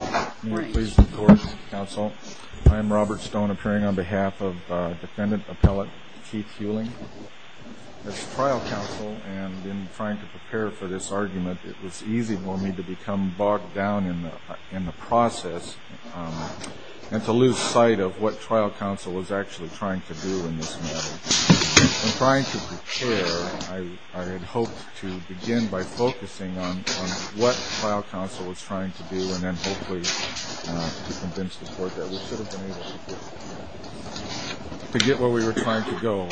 I'm Robert Stone, appearing on behalf of defendant appellate Keith Huling. As trial counsel and in trying to prepare for this argument, it was easy for me to become bogged down in the process and to lose sight of what trial counsel was actually trying to do in this matter. In trying to prepare, I had hoped to begin by focusing on what trial counsel was trying to do and then hopefully to convince the court that we should have been able to get where we were trying to go.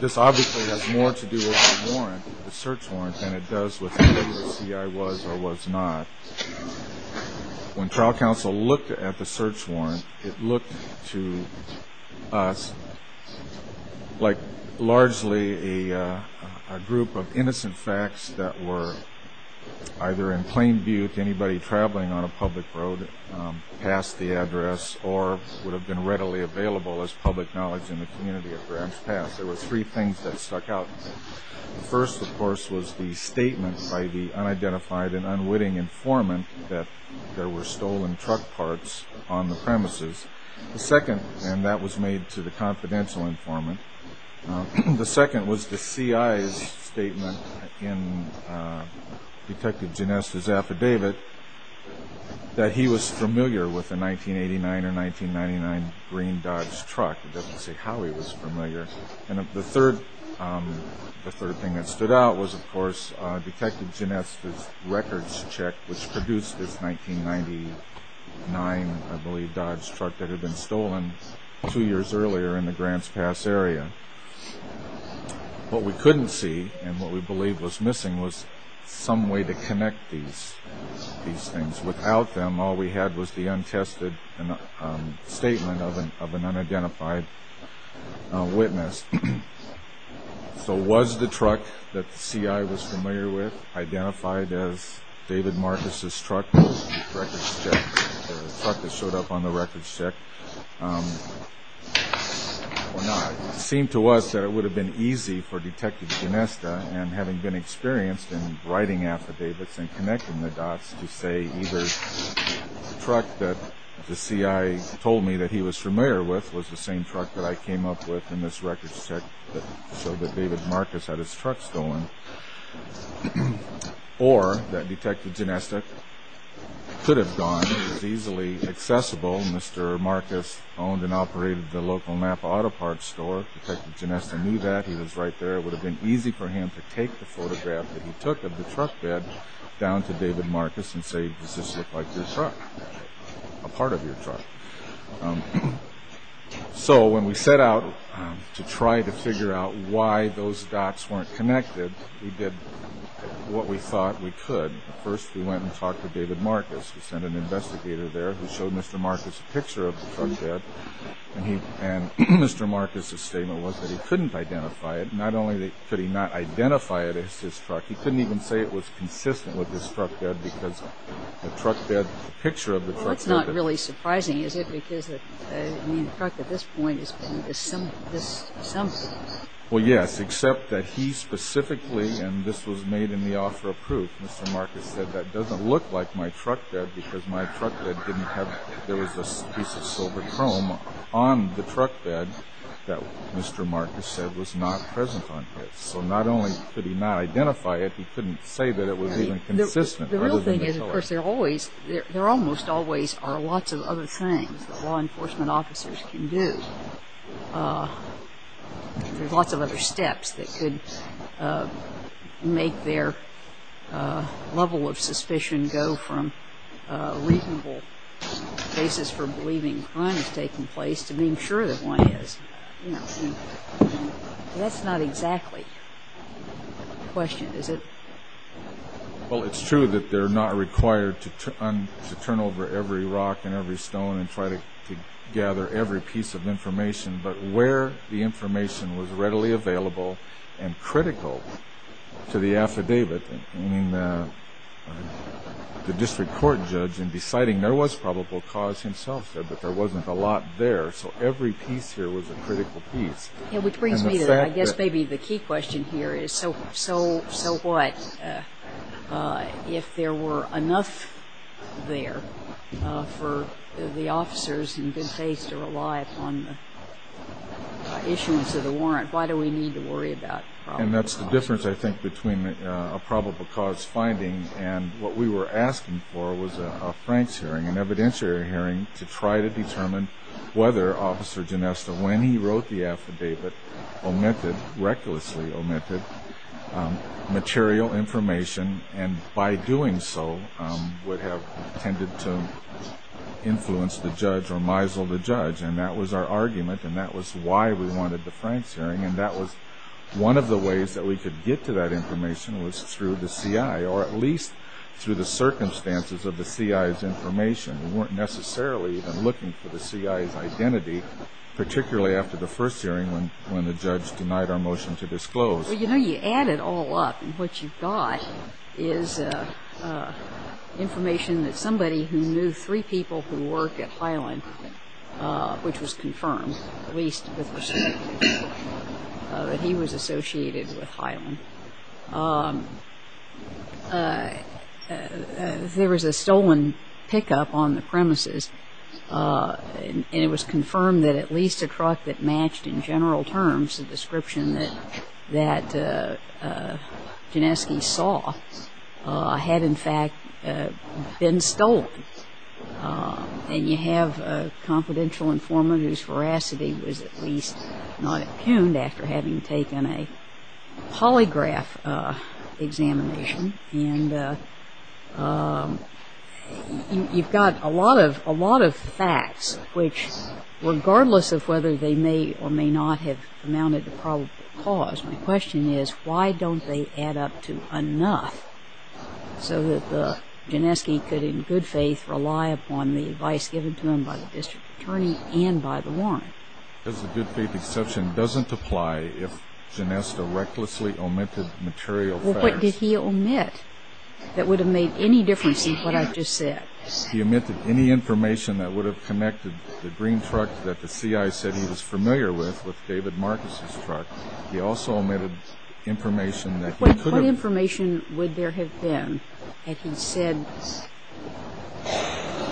This obviously has more to do with the warrant, the search warrant, than it does with whether the CI was or was not. When trial counsel looked at the search warrant, it looked to us like largely a group of innocent facts that were either in plain on a public road, past the address, or would have been readily available as public knowledge in the community of Grants Pass. There were three things that stuck out. The first, of course, was the statement by the unidentified and unwitting informant that there were stolen truck parts on the premises. The second, and that was made to the confidential informant, the second was the CI's statement in Detective Genesta's affidavit that he was familiar with a 1989 or 1999 green Dodge truck. It doesn't say how he was familiar. The third thing that stood out was, of course, Detective Genesta's records check, which produced this 1999, I believe. What we couldn't see and what we believed was missing was some way to connect these things. Without them, all we had was the untested statement of an unidentified witness. So was the truck that the CI was familiar with identified as David Marcus's truck that showed up on the records check? It seemed to us that it would have been easy for Detective Genesta, and having been experienced in writing affidavits and connecting the dots, to say either the truck that the CI told me that he was familiar with was the same truck that I came up with in this records check that showed that David Marcus had his truck stolen, or that Detective Genesta could have gone and was easily accessible. Mr. Marcus owned and operated the local Napa Auto Parts store. Detective Genesta knew that. He was right there. It would have been easy for him to take the photograph that he took of the truck bed down to David Marcus and say, does this look like your truck, a part of your truck? So when we set out to try to figure out why those dots weren't connected, we did what we thought we could. First, we went and talked to David Marcus. We sent an investigator there who showed Mr. Marcus a picture of the truck bed. And Mr. Marcus's statement was that he couldn't identify it. Not only could he not identify it as his truck, he couldn't even say it was consistent with his truck bed because the truck bed, the picture of the truck bed... Well, that's not really surprising, is it? Because the truck at this point is something. Well, yes, except that he specifically, and this was made in the offer of proof, Mr. Marcus said that doesn't look like my truck bed because my truck bed didn't have... there was a piece of silver chrome on the truck bed that Mr. Marcus said was not present on his. So not only could he not identify it, he couldn't say that it law enforcement officers can do. There's lots of other steps that could make their level of suspicion go from a reasonable basis for believing crime is taking place to being sure that one is. That's not exactly the question, is it? Well, it's true that they're not required to turn over every rock and every stone and try to gather every piece of information, but where the information was readily available and critical to the affidavit, meaning the district court judge in deciding there was probable cause himself said that there wasn't a lot there. So every piece here was a critical piece. Yeah, which brings me to, I guess maybe the key question here is, so what if there were enough there for the officers in good faith to rely upon the issuance of the warrant? Why do we need to worry about... And that's the difference I think between a probable cause finding and what we were asking for was a Frank's hearing, an evidentiary hearing to try to determine whether Officer Ginesta, when he wrote the affidavit, omitted, recklessly omitted, material information and by doing so would have tended to influence the judge or misled the judge and that was our argument and that was why we wanted the Frank's hearing and that was one of the ways that we could get to that information was through the CI or at least through the circumstances of the CI's information. We weren't necessarily even looking for the CI's identity, particularly after the first hearing when when the judge denied our motion to disclose. Well, you know, you add it all up and what you've got is information that somebody who knew three people who work at Highland, which was confirmed, at least with respect, that he was associated with Highland. There was a stolen pickup on the premises and it was confirmed that at least a truck that matched in general terms the description that Gineski saw had in fact been stolen and you have a confidential informant whose veracity was at least not impugned after having taken a polygraph examination and you've got a lot of a lot of facts which regardless of whether they may or may not have amounted to probable cause, my question is why don't they add up to enough so that the Gineski could, in good faith, rely upon the advice given to him by the district attorney and by the warrant? Because the good faith exception doesn't apply if Gineska recklessly omitted material facts. Well, what did he omit that would have made any difference in what I've just said? He omitted any information that would have connected the green truck that the C.I. said he was familiar with, with David Marcus's truck. He also omitted information that he could have... What information would there have been had he said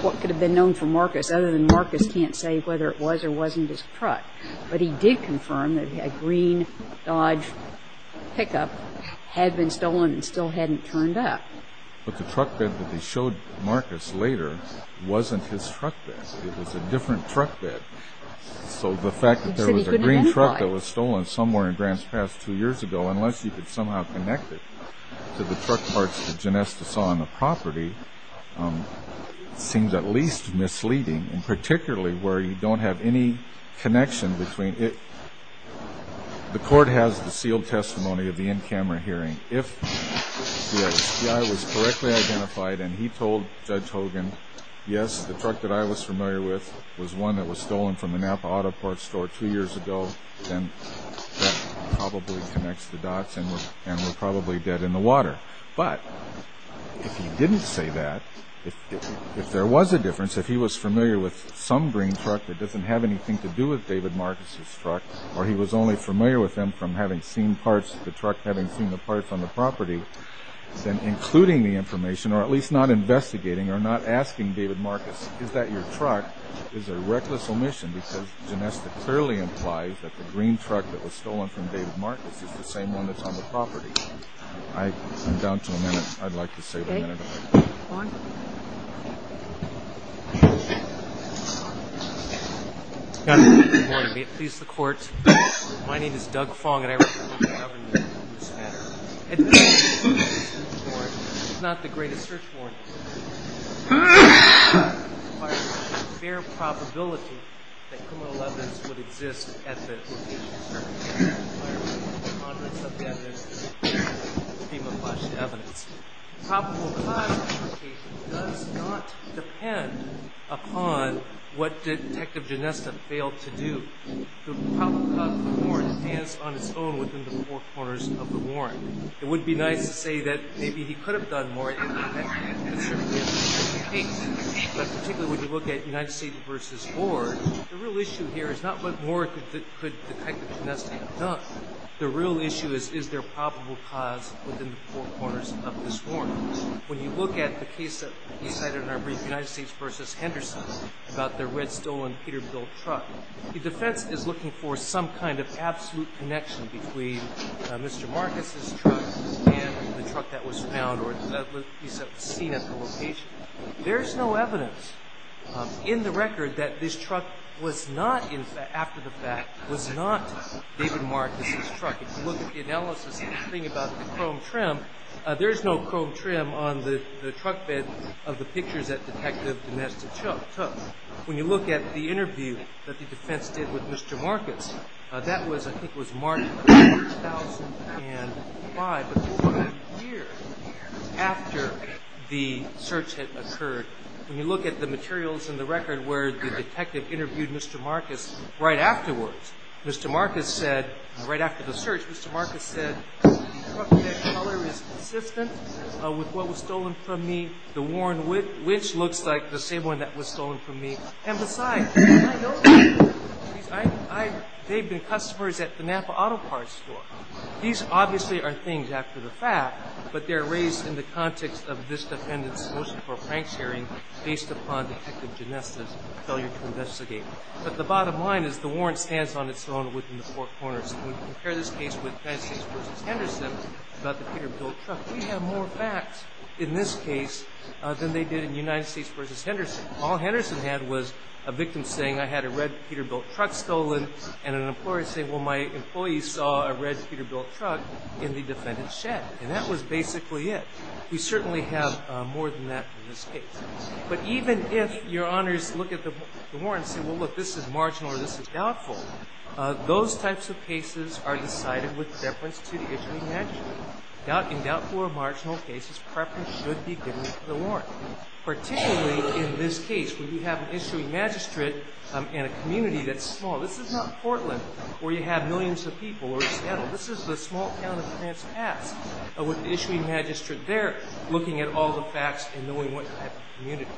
what could have been known for Marcus other than Marcus can't say whether it was or wasn't his truck, but he did confirm that a green Dodge pickup had been turned up. But the truck bed that he showed Marcus later wasn't his truck bed. It was a different truck bed. So the fact that there was a green truck that was stolen somewhere in Grants Pass two years ago, unless you could somehow connect it to the truck parts that Gineska saw on the property, seems at least misleading, and particularly where you don't have any connection between it... The court has the sealed testimony of the camera hearing. If the C.I. was correctly identified and he told Judge Hogan, yes, the truck that I was familiar with was one that was stolen from the Napa Auto Parts Store two years ago, then that probably connects the dots and we're probably dead in the water. But if he didn't say that, if there was a difference, if he was familiar with some green truck that doesn't have anything to do with David Marcus's truck, or he was only familiar with them from having seen parts of the truck, having seen the parts on the property, then including the information, or at least not investigating, or not asking David Marcus, is that your truck, is a reckless omission, because Gineska clearly implies that the green truck that was stolen from David Marcus is the same one that's on the property. I'm down to a minute. I'd like to save a minute if I could. Go on. Good morning. May it please the Court, my name is Doug Fong and I represent the government in this matter. It's not the greatest search warrant. It requires a fair probability that criminal evidence would exist at the location of the search warrant. The probable cause of the search warrant does not depend upon what Detective Gineska failed to do. The probable cause of the warrant stands on its own within the four corners of the warrant. It would be nice to say that maybe he could have done more in that case, but particularly when you look at United States v. Ward, the real issue here is not what more could Detective Gineska have done. The real issue is, is there a probable cause within the four corners of this warrant? When you look at the case that you cited in our brief, United States v. Henderson, about the red stolen Peterbilt truck, the defense is looking for some kind of absolute connection between Mr. Marcus' truck and the truck that was found, or at least that was seen at the location. There's no evidence in the record that this truck was not, after the fact, was not David Marcus' truck. If you look at the analysis of the thing about the chrome trim, there's no chrome trim on the truck bed of the pictures that Detective Gineska took. When you look at the interview that the defense did with Mr. Marcus, that was, I think it was March 2005, but it was a year after the search had occurred. When you look at the materials in the record where the detective interviewed Mr. Marcus right afterwards, Mr. Marcus said, right after the search, Mr. Marcus said, the truck bed color is consistent with what was stolen from me. The worn winch looks like the same one that was stolen from me. And besides, they've been customers at the Napa Auto Parts store. These obviously are things after the fact, but they're raised in the context of this defendant's motion for a frank sharing based upon Detective Gineska's failure to investigate. But the bottom line is the warrant stands on its own within the four corners. When you compare this case with United States v. Henderson about the Peterbilt truck, we have more facts in this case than they did in United States v. Henderson. All Henderson had was a victim saying, I had a red Peterbilt truck stolen, and an employer saying, well, my employee saw a red Peterbilt truck in the defendant's shed. And that was basically it. We certainly have more than that in this case. But even if your honors look at the warrant and say, well, look, this is marginal or this is doubtful, those types of cases are decided with reference to the issue naturally. In doubtful or marginal cases, preference should be given to the warrant. Particularly in this case, where you have an issuing magistrate in a community that's small. This is not Portland, where you have millions of people, or Seattle. This is the small town of Transpass with the issuing magistrate there looking at all the facts and knowing what type of community.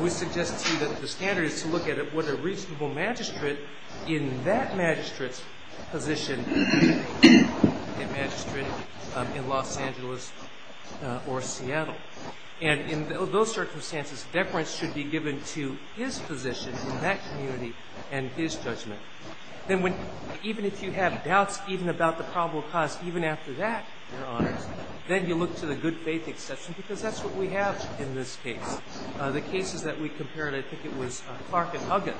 We suggest to you that the standard is to look at what a reasonable magistrate in that magistrate's position in Los Angeles or Seattle. And in those circumstances, deference should be given to his position in that community and his judgment. Then even if you have doubts even about the probable cause, even after that, your honors, then you look to the good faith exception, because that's what we have in this case. The cases that we compared, I think it was Clark and Huggins.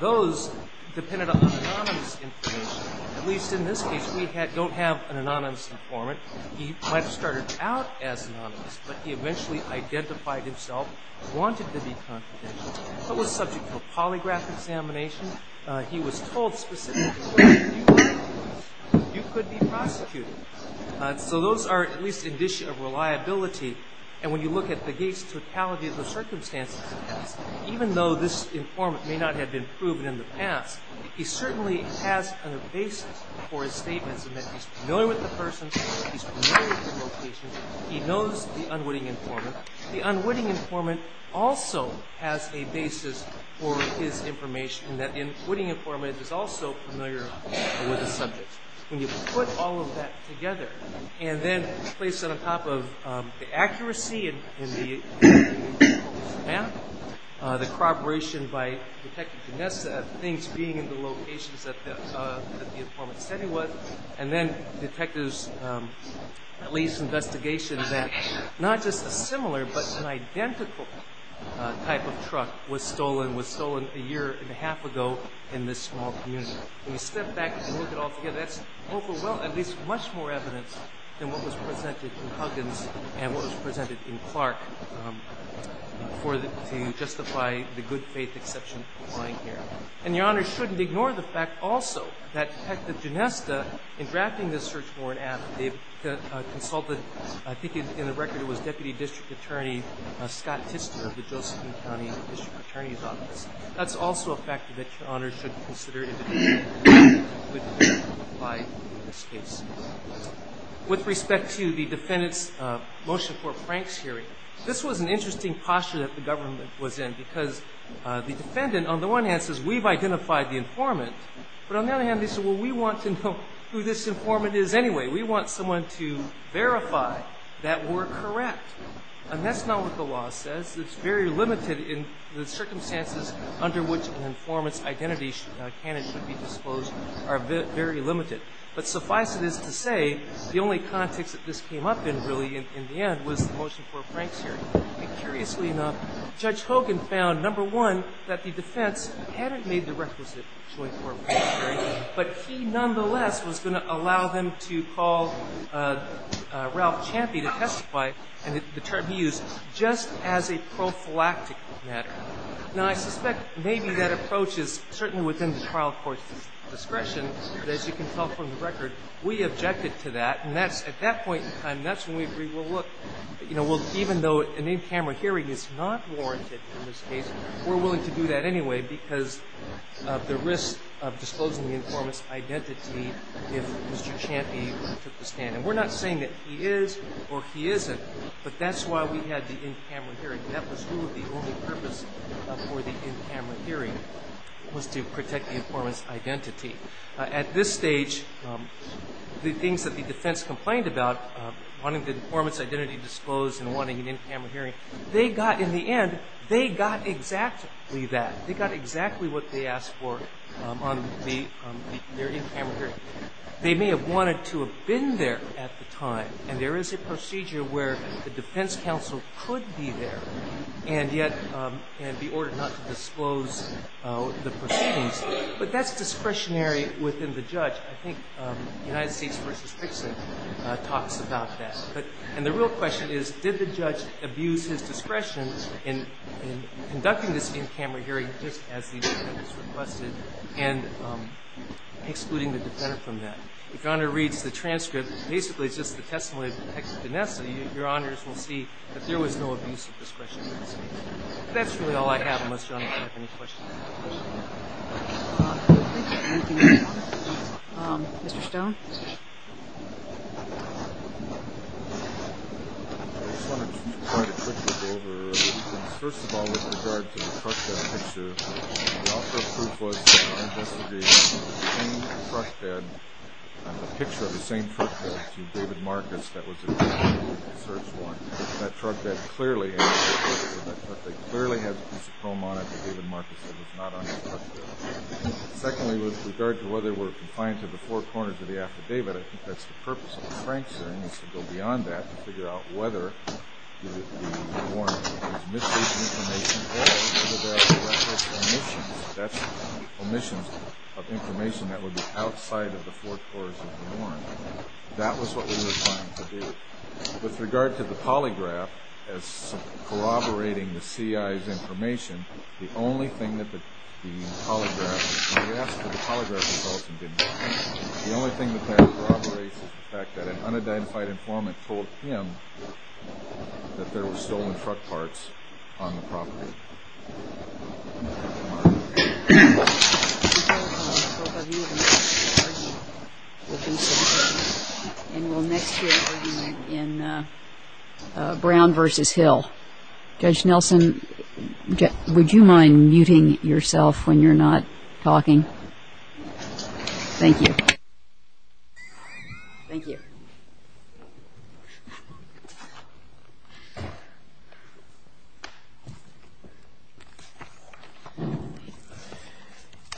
Those depended on anonymous information. At least in this case, we don't have an anonymous informant. He might have started out as anonymous, but he eventually identified himself, wanted to be confidential, but was subject to a polygraph examination. He was told specifically, you could be prosecuted. So those are at least an issue of reliability. And when you look at the case totality of the circumstances in this, even though this informant may not have been proven in the past, he certainly has a basis for his statements in that he's familiar with the person, he's familiar with the location, he knows the unwitting informant. The unwitting informant also has a basis for his information in that the unwitting informant is also familiar with the subject. When you put all of that together, and then place it on top of the accuracy in the map, the corroboration by Detective Ginessa, things being in the locations that the informant said he was, and then detectives at least investigation that not just a similar but an identical type of truck was stolen, was stolen a year and a half ago in this small community. When you step back and look at it all together, that's at least much more evidence than what was presented in Huggins and what was presented in Clark to justify the good faith exception applying here. And Your Honor shouldn't ignore the fact also that Detective Ginessa, in drafting this search warrant app, they consulted, I think in the record it was Deputy District Attorney Scott Tister of the Josephine County District Attorney's Office. That's also a factor that Your Honor should consider in this case. With respect to the defendant's motion for Frank's hearing, this was an interesting posture that the government was in because the defendant on the one hand says, we've identified the informant, but on the other hand they say, well we want to know who this informant is anyway. We want someone to verify that we're correct. And that's not what the law says. It's very limited in the circumstances under which an informant's identity can and should be disclosed are very limited. But suffice it is to say, the only context that this came up in really in the end was the motion for Frank's hearing. And curiously enough, Judge Hogan found, number one, that the defense hadn't made the requisite joint for Frank's hearing, but he nonetheless was going to allow them to call Ralph Champey to testify and the term he used, just as a prophylactic matter. Now I suspect maybe that approach is certainly within the trial court's discretion, but as you can tell from the record, we objected to that. And at that point in time, that's when we agreed, well look, even though an in-camera hearing is not warranted in this case, we're willing to do that anyway because of the risk of disclosing the informant's identity if Mr. Champey took the stand. And we're not saying that he is or he isn't, but that's why we had the in-camera hearing. That was really the only purpose for the in-camera hearing, was to protect the informant's identity. At this stage, the things that the defense complained about, wanting the informant's identity disclosed and wanting an in-camera hearing, they got in the end, they got exactly that. They got exactly what they asked for on their in-camera hearing. They may have wanted to have been there at the time, and there is a procedure where the defense counsel could be there and yet be ordered not to disclose the proceedings, but that's discretionary within the judge. I think United States v. Pritchett talks about that. And the real question is, did the judge abuse his discretion in conducting this in-camera hearing just as the defense requested and excluding the defender from that? If your honor reads the transcript, basically it's just the testimony of the defense. Your honors will see that there was no abuse of discretion. That's really all I have, unless your honor has any questions. Thank you. Anything else, your honor? Mr. Stone? I just wanted to provide a quick look over. First of all, with regard to the truck down picture, the author of proof was that this was the same truck bed, the picture of the same truck bed to David Marcus that was in the search warrant. That truck bed clearly had a piece of chrome on it that David Marcus said was not on his truck bill. Secondly, with regard to whether we're confined to the forecourt or to the affidavit, I think that's the purpose of the Franks hearing, is to go beyond that to figure out whether the warrant was misplaced or whether there were omissions. That's omissions of information that would be outside of the forecourts of the warrant. That was what we were trying to do. With regard to the polygraph as corroborating the CI's information, the only thing that the polygraph, we asked for the polygraph result and didn't get it. The only thing that corroborates is the fact that an unidentified informant told him that there were stolen truck parts on the property. And we'll next hear an argument in Brown v. Hill. Judge Nelson, would you mind muting yourself when you're not talking? Thank you. Thank you. Thank you.